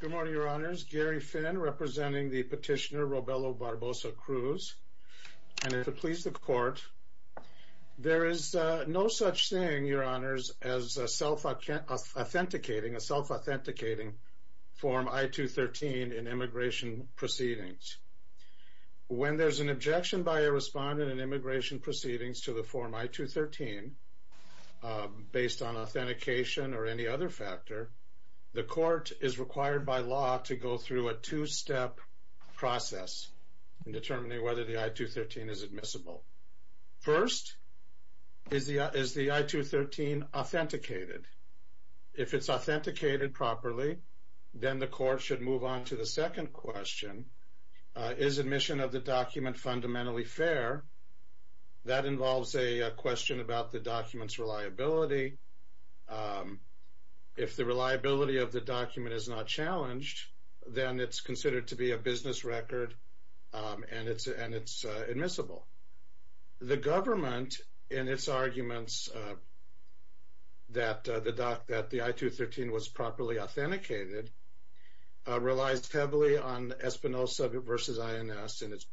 Good morning, Your Honors. Gary Finn, representing the petitioner Robelo Barboza-Cruz. And if it pleases the Court, there is no such thing, Your Honors, as a self-authenticating Form I-213 in immigration proceedings. When there's an objection by a respondent in immigration proceedings to the Form I-213 based on authentication or any other factor, the Court is required by law to go through a two-step process in determining whether the I-213 is admissible. First, is the I-213 authenticated? If it's authenticated properly, then the Court should move on to the second question. Is admission of a question about the document's reliability. If the reliability of the document is not challenged, then it's considered to be a business record and it's admissible. The government, in its arguments that the I-213 was properly authenticated, relies heavily on Espinoza v. INS in its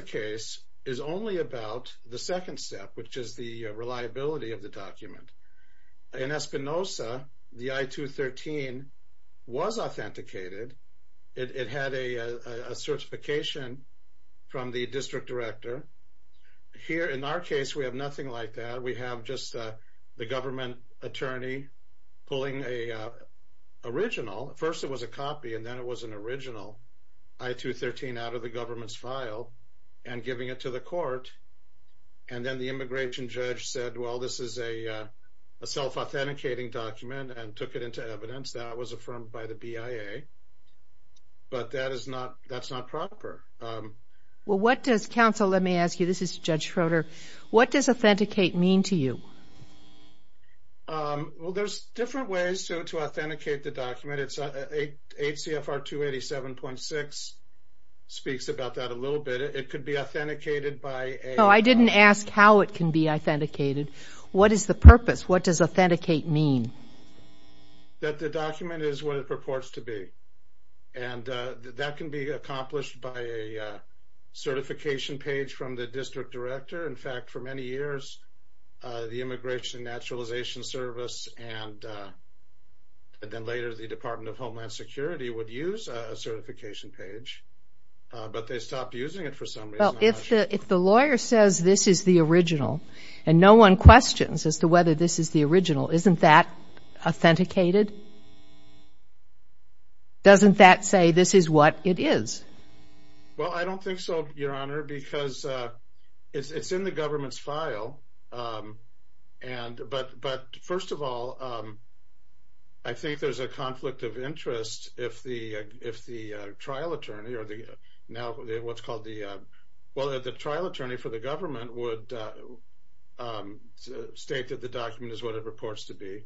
case is only about the second step, which is the reliability of the document. In Espinoza, the I-213 was authenticated. It had a certification from the district director. Here, in our case, we have nothing like that. We have just the government attorney pulling an original, first it was a copy and then it was an and giving it to the court and then the immigration judge said, well, this is a self-authenticating document and took it into evidence. That was affirmed by the BIA, but that is not that's not proper. Well, what does counsel, let me ask you, this is Judge Schroeder, what does authenticate mean to you? Well, there's different ways to authenticate the document. It's a 8 CFR 287.6 speaks about that a little bit. It could be authenticated by... No, I didn't ask how it can be authenticated. What is the purpose? What does authenticate mean? That the document is what it purports to be and that can be accomplished by a certification page from the district director. In fact, for many years, the Immigration and Naturalization Service and then later the Department of Well, if the lawyer says this is the original and no one questions as to whether this is the original, isn't that authenticated? Doesn't that say this is what it is? Well, I don't think so, Your Honor, because it's in the government's file and but first of all, I think there's a conflict of interest if the trial attorney or the now what's called the... Well, the trial attorney for the government would state that the document is what it reports to be.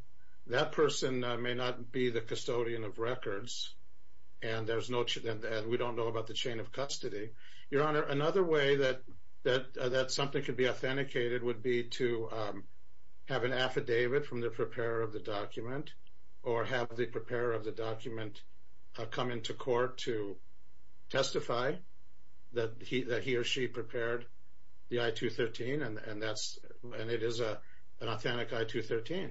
That person may not be the custodian of records and we don't know about the chain of custody. Your Honor, another way that something could be authenticated would be to have an affidavit from the preparer of the to testify that he or she prepared the I-213 and that's and it is a authentic I-213.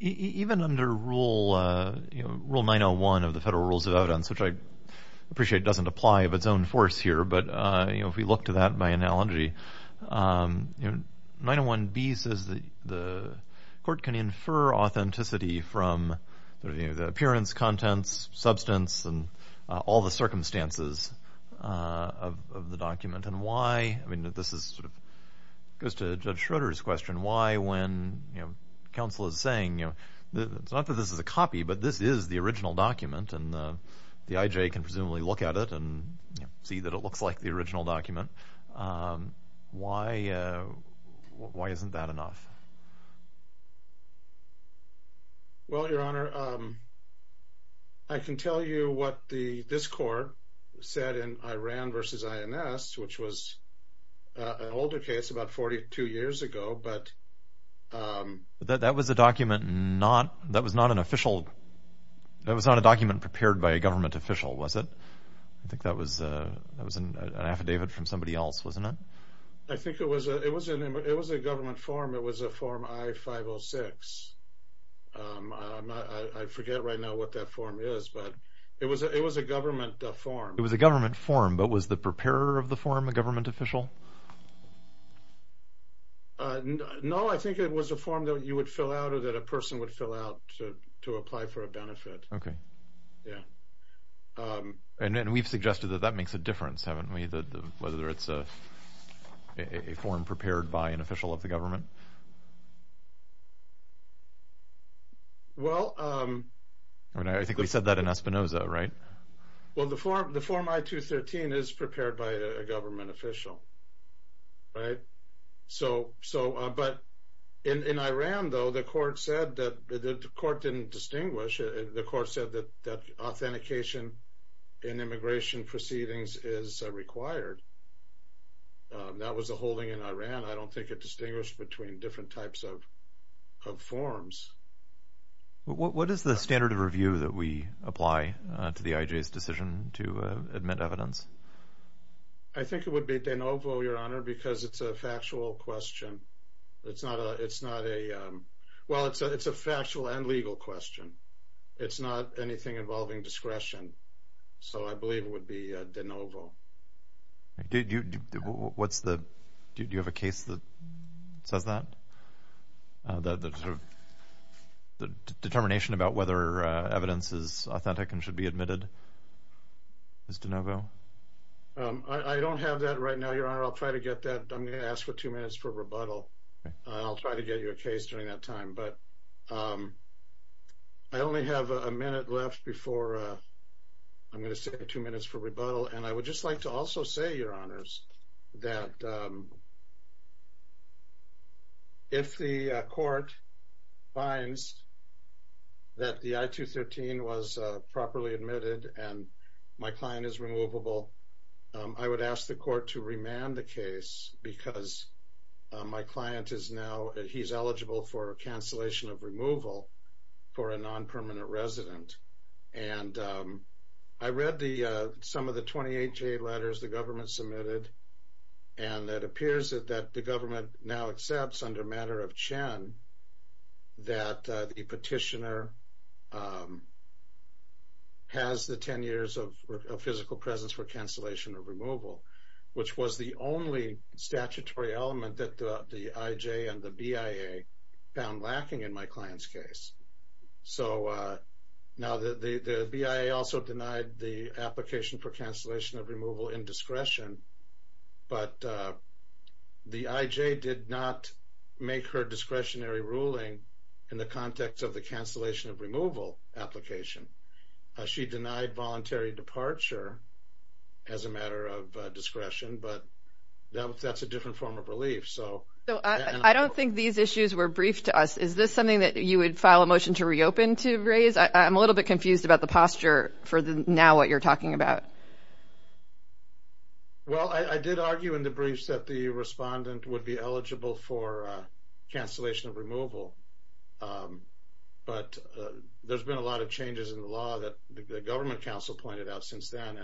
Even under Rule 901 of the Federal Rules of Evidence, which I appreciate doesn't apply of its own force here, but you know if we look to that by analogy, 901B says that the court can infer authenticity from the appearance, contents, substance, and all the circumstances of the document and why I mean that this is sort of goes to Judge Schroeder's question why when you know counsel is saying you know it's not that this is a copy but this is the original document and the IJ can presumably look at it and see that it looks like the original document. Why isn't that enough? Well, Your Honor, I can tell you what the this court said in Iran versus INS, which was an older case about 42 years ago, but that was a document not that was not an official that was not a document prepared by a government official was it? I think that was a that was an affidavit from somebody else wasn't it? I think it was a government form. It was a form I-506. I forget right now what that form is, but it was a government form. It was a government form, but was the preparer of the form a government official? No, I think it was a form that you would fill out or that a person would fill out to apply for a benefit. Okay. Yeah. And we've suggested that that makes a form prepared by an official of the government. Well, I think we said that in Espinoza, right? Well, the form I-213 is prepared by a government official, right? So, but in Iran though the court said that the court didn't distinguish. The court said that authentication in immigration proceedings is required. That was a holding in Iran. I don't think it distinguished between different types of of forms. What is the standard of review that we apply to the IJ's decision to admit evidence? I think it would be de novo, your honor, because it's a factual question. It's not a it's not a well it's a it's a factual and legal question. It's not anything involving discretion. So I believe it would be de novo. What's the do you have a case that says that the determination about whether evidence is authentic and should be admitted is de novo? I don't have that right now, your honor. I'll try to get that. I'm gonna ask for two minutes for rebuttal. I'll try to get you a case during that time, but I only have a minute left before I'm gonna save two minutes for rebuttal. And I would just like to also say, your honors, that if the court finds that the I-213 was properly admitted and my client is removable, I would ask the court to remand the case because my client is now he's eligible for a cancellation of removal for a non-permanent resident. And I read the some of the 28 J letters the government submitted and that appears that the government now accepts under matter of Chen that the petitioner has the 10 years of physical presence for cancellation of removal, which was the only statutory element that the IJ and the BIA found lacking in my client's case. So now the BIA also denied the application for cancellation of removal in discretion, but the IJ did not make her discretionary ruling in the context of the cancellation of removal application. She denied voluntary departure as a matter of discretion, but that's a different form of relief. So I don't think these issues were briefed to us. Is this something that you would file a motion to reopen to raise? I'm a little bit confused about the posture for the now what you're talking about. Well, I did argue in the briefs that the respondent would be eligible for cancellation of the law that the government council pointed out since then.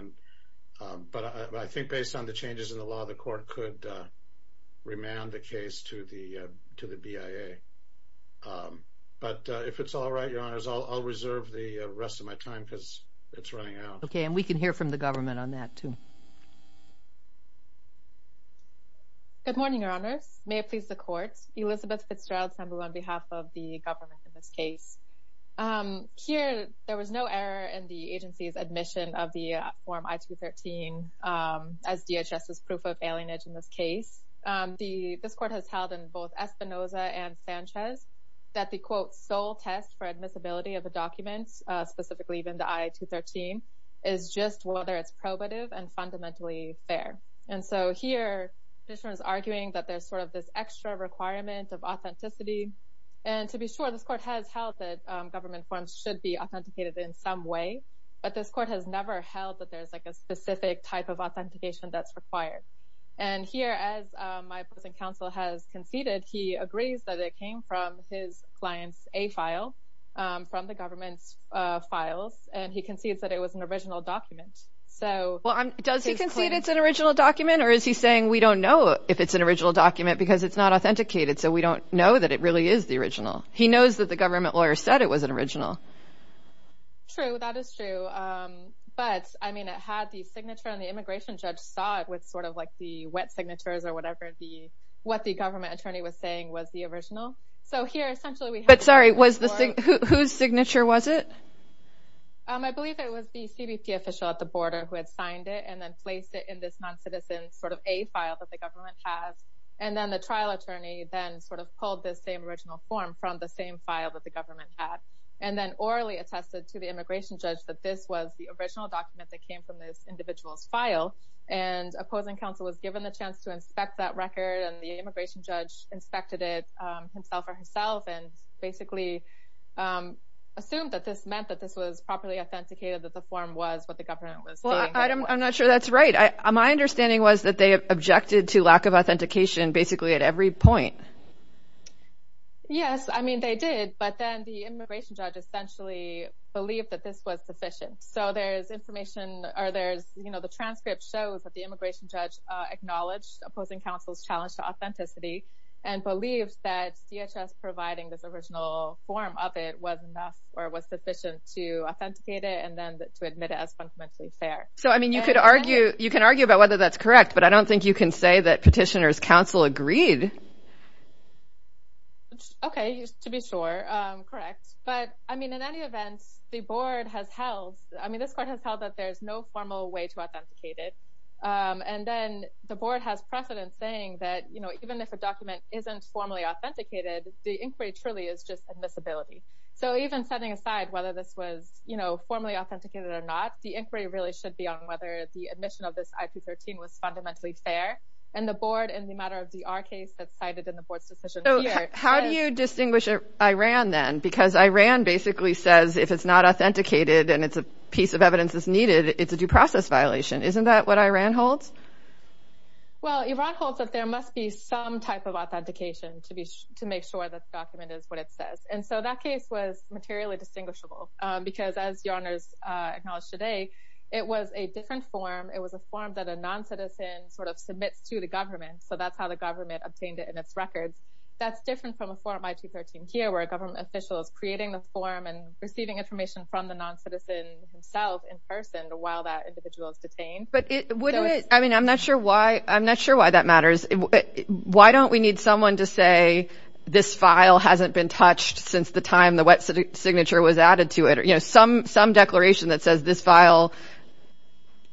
And but I think based on the changes in the law, the court could remand the case to the to the BIA. Um, but if it's all right, your honors, I'll reserve the rest of my time because it's running out. Okay, and we can hear from the government on that, too. Good morning, your honors. May it please the courts. Elizabeth Fitzgerald on behalf of the government in this case. Here, there was no error in the agency's admission of the form I-213 as DHS's proof of alienage. In this case, the this court has held in both Espinoza and Sanchez that the quote sole test for admissibility of the documents, specifically even the I-213, is just whether it's probative and fundamentally fair. And so here, this one is arguing that there's sort of this extra requirement of authenticity. And to be sure, this court has held that government forms should be authenticated in some way. But this court has never held that there's like a specific type of authentication that's required. And here, as my opposing counsel has conceded, he agrees that it came from his client's a file from the government's files, and he concedes that it was an original document. So well, does he concede it's an original document? Or is he saying we don't know if it's an original document because it's not authenticated? So we don't know that it really is the original. He knows that the government lawyer said it was an original. True, that is true. But I mean, it had the signature and the immigration judge saw it with sort of like the wet signatures or whatever the what the government attorney was saying was the original. So here, essentially, we had... But sorry, was the... Whose signature was it? I believe it was the CBP official at the border who had signed it and then non-citizens sort of a file that the government has. And then the trial attorney then sort of pulled this same original form from the same file that the government had, and then orally attested to the immigration judge that this was the original document that came from this individual's file. And opposing counsel was given the chance to inspect that record and the immigration judge inspected it himself or herself and basically assumed that this meant that this was properly authenticated that the form was what the government was saying. I'm not sure that's right. My understanding was that they objected to lack of authentication basically at every point. Yes, I mean, they did. But then the immigration judge essentially believed that this was sufficient. So there's information or there's, you know, the transcript shows that the immigration judge acknowledged opposing counsel's challenge to authenticity and believes that CHS providing this original form of it was enough or was sufficient to authenticate it and then to admit it as fundamentally fair. So I mean, you could argue you can argue about whether that's correct, but I don't think you can say that petitioners counsel agreed. Okay, to be sure. Correct. But I mean, in any event, the board has held, I mean, this court has held that there's no formal way to authenticate it. And then the board has precedent saying that, you know, even if a document isn't formally authenticated, the inquiry truly is just admissibility. So even setting aside whether this was, you know, formally authenticated or not, the on whether the admission of this IP 13 was fundamentally fair and the board in the matter of the our case that cited in the board's decision. So how do you distinguish Iran then? Because Iran basically says if it's not authenticated and it's a piece of evidence that's needed, it's a due process violation. Isn't that what Iran holds? Well, Iran holds that there must be some type of authentication to be to make sure that the document is what it says. And so that case was materially distinguishable because, as your honors acknowledged today, it was a different form. It was a form that a non citizen sort of submits to the government. So that's how the government obtained it in its record. That's different from a form by 2013 here, where a government official is creating the form and receiving information from the non citizen himself in person while that individual is detained. But wouldn't it? I mean, I'm not sure why. I'm not sure why that matters. Why don't we need someone to say this file hasn't been touched since the time the wet signature was added to it? You know, some declaration that says this file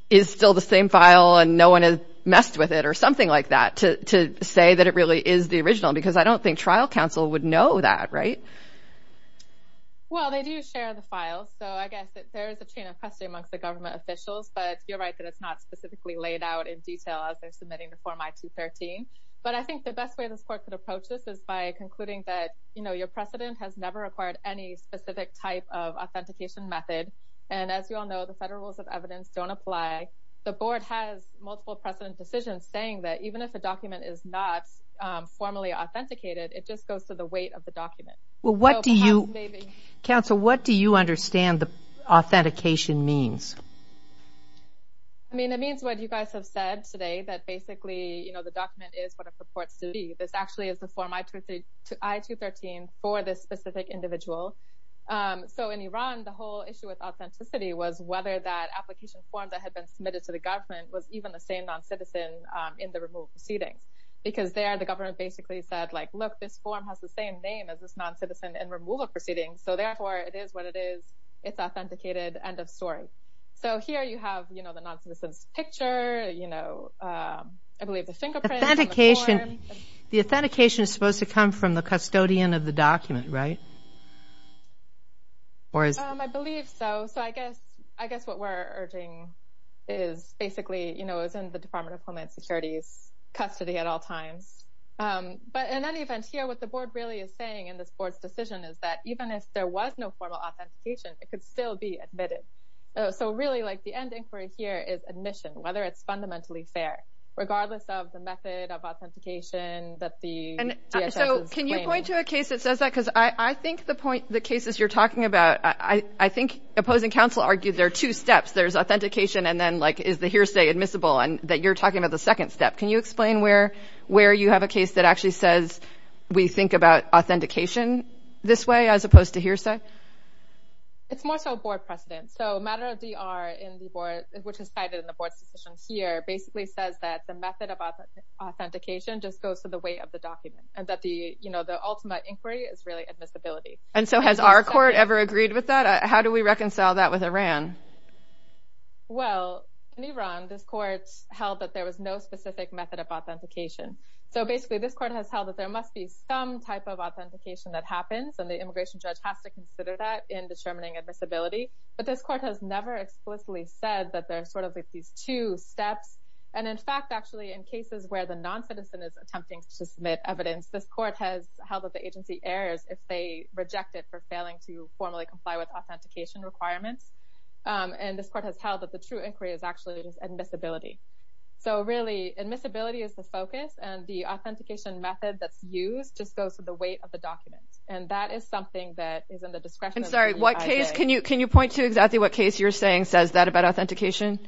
is still the same file and no one has messed with it or something like that to say that it really is the original. Because I don't think trial counsel would know that, right? Well, they do share the file. So I guess there is a chain of custody amongst the government officials. But you're right that it's not specifically laid out in detail as they're submitting the form I-213. But I think the best way this court could approach this is by concluding that your precedent has never acquired any specific type of authentication method. And as you all know, the Federal Rules of Evidence don't apply. The board has multiple precedent decisions saying that even if the document is not formally authenticated, it just goes to the weight of the document. Counsel, what do you understand the authentication means? I mean, it means what you guys have said today, that basically the This actually is the form I-213 for this specific individual. So in Iran, the whole issue with authenticity was whether that application form that had been submitted to the government was even the same non-citizen in the removal proceeding. Because there, the government basically said, like, look, this form has the same name as this non-citizen in removal proceedings. So therefore, it is what it is. It's authenticated, end of story. So here you have, you know, the non-citizen's picture, you know, I believe the authentication, the authentication is supposed to come from the custodian of the document, right? I believe so. So I guess what we're urging is basically, you know, is in the Department of Homeland Security's custody at all times. But in any event here, what the board really is saying in this board's decision is that even if there was no formal authentication, it could still be admitted. So really, like, the end inquiry here is admission, whether it's fundamentally fair, regardless of the method of authentication that the DHS is claiming. So can you point to a case that says that? Because I think the point, the cases you're talking about, I think opposing counsel argued there are two steps. There's authentication and then, like, is the hearsay admissible and that you're talking about the second step. Can you explain where you have a case that actually says we think about authentication this way as opposed to hearsay? It's more so a board precedent. So a matter of DR in the board, which is that the method of authentication just goes to the weight of the document and that the, you know, the ultimate inquiry is really admissibility. And so has our court ever agreed with that? How do we reconcile that with Iran? Well, in Iran, this court held that there was no specific method of authentication. So basically, this court has held that there must be some type of authentication that happens and the immigration judge has to consider that in determining admissibility. But this court has never explicitly said that there are sort of these two steps. And in fact, actually, in cases where the non-citizen is attempting to submit evidence, this court has held that the agency errs if they reject it for failing to formally comply with authentication requirements. And this court has held that the true inquiry is actually just admissibility. So really, admissibility is the focus and the authentication method that's used just goes to the weight of the document. And that is something that is in the discretion. I'm sorry, what case, can you, can you point to exactly what case you're saying says that about authentication?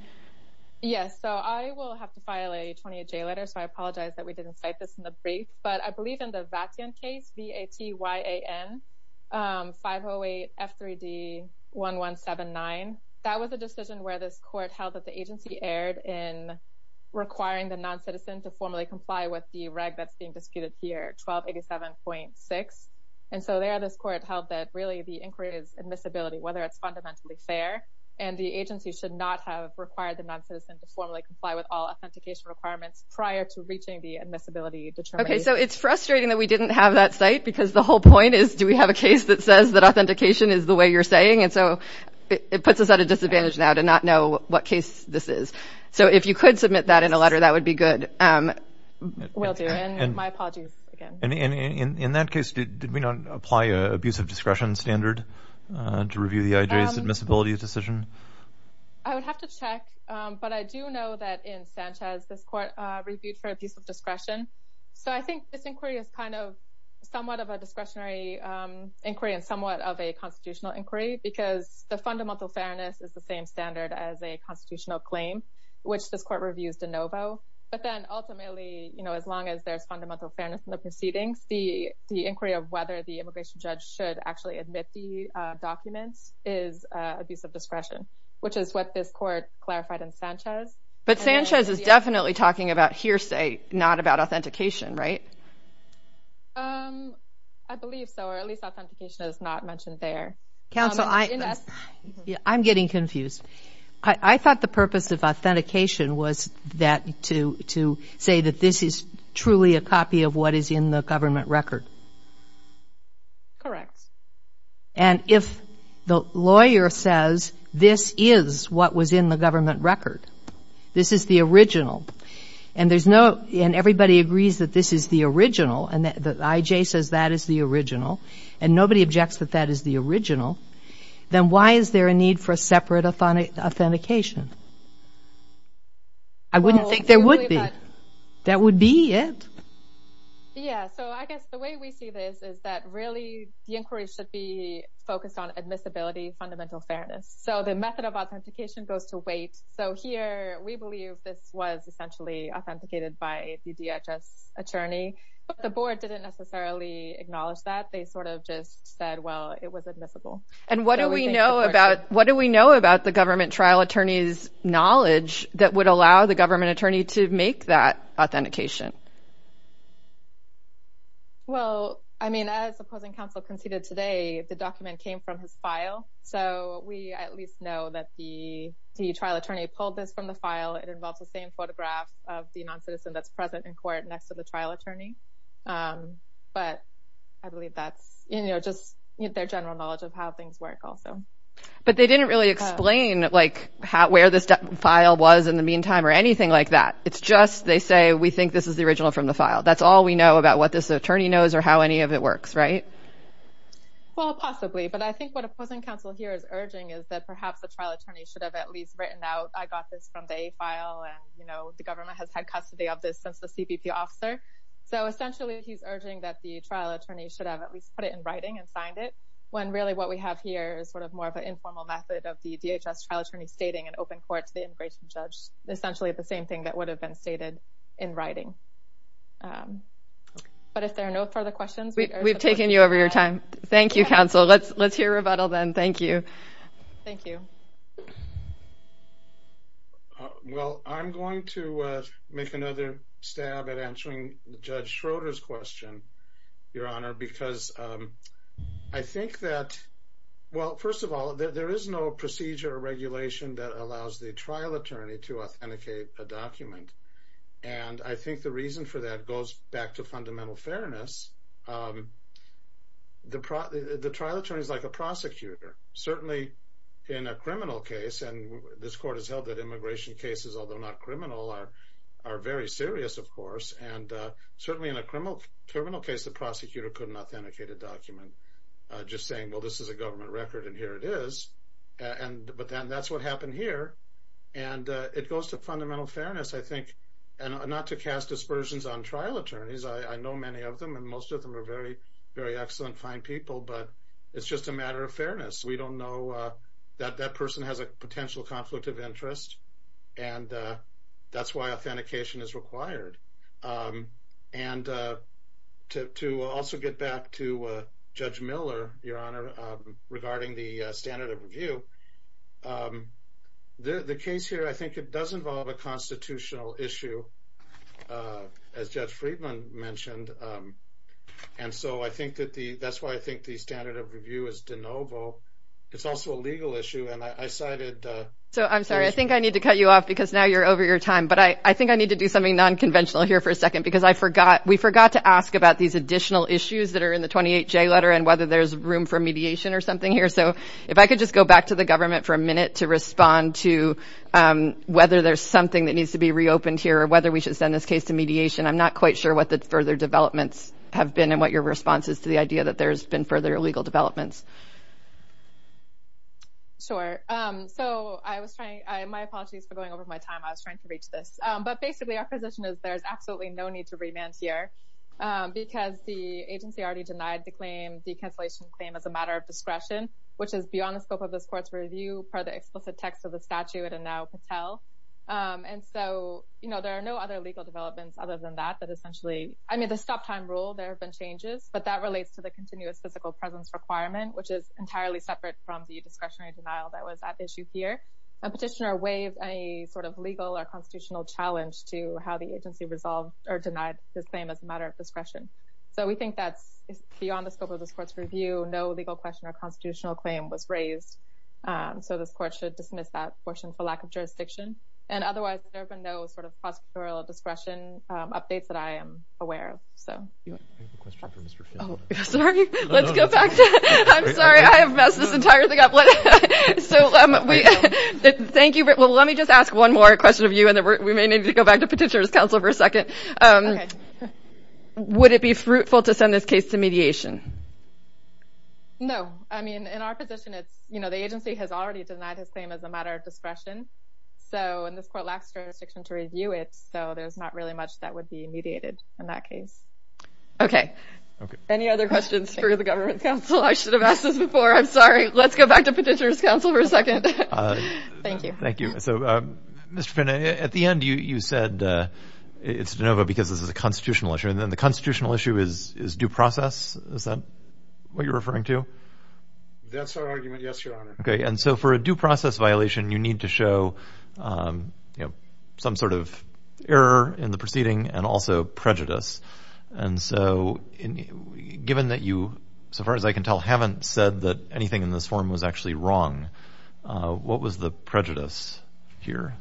Yes, so I will have to file a 28-J letter. So I apologize that we didn't cite this in the brief. But I believe in the Vatian case, V-A-T-Y-A-N, 508-F3-D-1179. That was a decision where this court held that the agency erred in requiring the non-citizen to formally comply with the reg that's being disputed here, 1287.6. And so there, this court held that really the inquiry is whether it's fundamentally fair, and the agency should not have required the non-citizen to formally comply with all authentication requirements prior to reaching the admissibility determination. Okay, so it's frustrating that we didn't have that cite because the whole point is, do we have a case that says that authentication is the way you're saying? And so it puts us at a disadvantage now to not know what case this is. So if you could submit that in a letter, that would be good. Will do, and my apologies again. And in that case, did we not apply an abuse of discretion standard to review the IJ's admissibility decision? I would have to check. But I do know that in Sanchez, this court reviewed for abuse of discretion. So I think this inquiry is kind of somewhat of a discretionary inquiry and somewhat of a constitutional inquiry, because the fundamental fairness is the same standard as a constitutional claim, which this court reviews de novo. But then ultimately, you know, as long as there's fundamental fairness in the proceedings, the inquiry of whether the immigration judge should actually admit the documents is abuse of discretion, which is what this court clarified in Sanchez. But Sanchez is definitely talking about hearsay, not about authentication, right? I believe so, or at least authentication is not mentioned there. Counsel, I'm getting confused. I thought the purpose of authentication was that to say that this is truly a copy of what is in the government record. Correct. And if the lawyer says this is what was in the government record, this is the original and there's no and everybody agrees that this is the original and that IJ says that is the original and nobody objects that that is the original, then why is there a need for a separate authentication? I wouldn't think there would be. That would be it. Yeah. So I guess the way we see this is that really the inquiry should be focused on admissibility, fundamental fairness. So the method of authentication goes to weight. So here we believe this was essentially authenticated by a DHS attorney, but the board didn't necessarily acknowledge that. They sort of just said, well, it was admissible. And what do we know about what do we know about the government trial attorneys knowledge that would allow the government attorney to make that authentication? Well, I mean, as the opposing counsel conceded today, the document came from his file. So we at least know that the trial attorney pulled this from the file. It involves the same photograph of the non-citizen that's present in court next to the trial attorney. But I believe that's just their general knowledge of how things work also. But they didn't really explain where this file was in the meantime or anything like that. It's just they say, we think this is the original from the file. That's all we know about what this attorney knows or how any of it works, right? Well, possibly. But I think what opposing counsel here is urging is that perhaps the trial attorney should have at least written out, I got this from the A file and the government has had custody of this since the CBP officer. So essentially, he's urging that the trial attorney should have at least put it in the A file and signed it when really what we have here is sort of more of an informal method of the DHS trial attorney stating an open court to the immigration judge, essentially the same thing that would have been stated in writing. But if there are no further questions, we've taken you over your time. Thank you, counsel. Let's let's hear rebuttal then. Thank you. Thank you. Well, I'm going to make another stab at answering Judge Schroeder's question, Your Honor, because I think that, well, first of all, there is no procedure regulation that allows the trial attorney to authenticate a document. And I think the reason for that goes back to fundamental fairness. The trial attorney is like a prosecutor, certainly in a criminal case. And this court has held that immigration cases, although not criminal, are very serious, of course. And certainly in a criminal criminal case, the prosecutor couldn't authenticate a document just saying, Well, this is a government record, and here it is. And but then that's what happened here. And it goes to fundamental fairness, I think, and not to cast dispersions on trial attorneys. I know many of them, and most of them are very, very excellent, fine people. But it's just a matter of fairness. We don't know that that person has a potential conflict of interest, and that's why authentication is required. And to also get back to Judge Miller, Your Honor, regarding the standard of review, the case here, I think it does involve a constitutional issue, as Judge Friedman mentioned. And so I think that the that's why I think the standard of it's also a legal issue. And I cited, so I'm sorry, I think I need to cut you off, because now you're over your time. But I think I need to do something nonconventional here for a second, because I forgot, we forgot to ask about these additional issues that are in the 28 J letter, and whether there's room for mediation or something here. So if I could just go back to the government for a minute to respond to whether there's something that needs to be reopened here, or whether we should send this case to mediation, I'm not quite sure what the further developments have been and what your response is to the idea that there's been further legal developments. Sure. So I was trying, my apologies for going over my time, I was trying to reach this. But basically, our position is there's absolutely no need to remand here. Because the agency already denied the claim, the cancellation claim as a matter of discretion, which is beyond the scope of this court's review per the explicit text of the statute and now Patel. And so, you know, there are no other legal developments other than that, that essentially, I mean, the stop time rule, there have been changes, but that relates to the continuous physical presence requirement, which is entirely separate from the discretionary denial that was at issue here. A petitioner waived a sort of legal or constitutional challenge to how the agency resolved or denied the claim as a matter of discretion. So we think that's beyond the scope of this court's review, no legal question or constitutional claim was raised. So this court should dismiss that portion for lack of jurisdiction. And otherwise, there have been no sort of prosecutorial discretion updates that I am aware of. So Oh, sorry, let's go back. I'm sorry, I have messed this entire thing up. So thank you. Well, let me just ask one more question of you. And then we may need to go back to Petitioner's Counsel for a second. Would it be fruitful to send this case to mediation? No, I mean, in our position, it's, you know, the agency has already denied his claim as a matter of discretion. So in this court lacks jurisdiction to review it. So there's not really much that would be mediated in that case. Okay. Okay. Any other questions for the Government Counsel? I should have asked this before. I'm sorry. Let's go back to Petitioner's Counsel for a second. Thank you. Thank you. So, Mr. Pena, at the end, you said it's de novo because this is a constitutional issue. And then the constitutional issue is due process. Is that what you're referring to? That's our argument. Yes, Your Honor. Okay. And so for a due process violation, you need to show, you know, some sort of error in the proceeding and also prejudice. And so, given that you, so far as I can tell, haven't said that anything in this form was actually wrong, what was the prejudice here?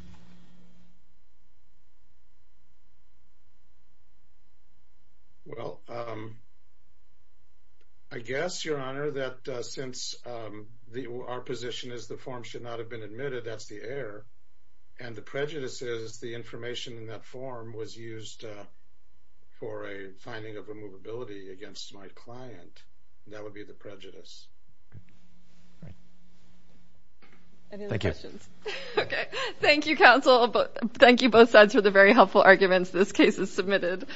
Well, I guess, Your Honor, that since our position is the form should not have been admitted, that's the error. And the prejudice is the information in that form was used for a finding of immovability against my client. That would be the prejudice. Any other questions? Okay. Thank you, Counsel. Thank you both sides for the very helpful arguments. This case is submitted.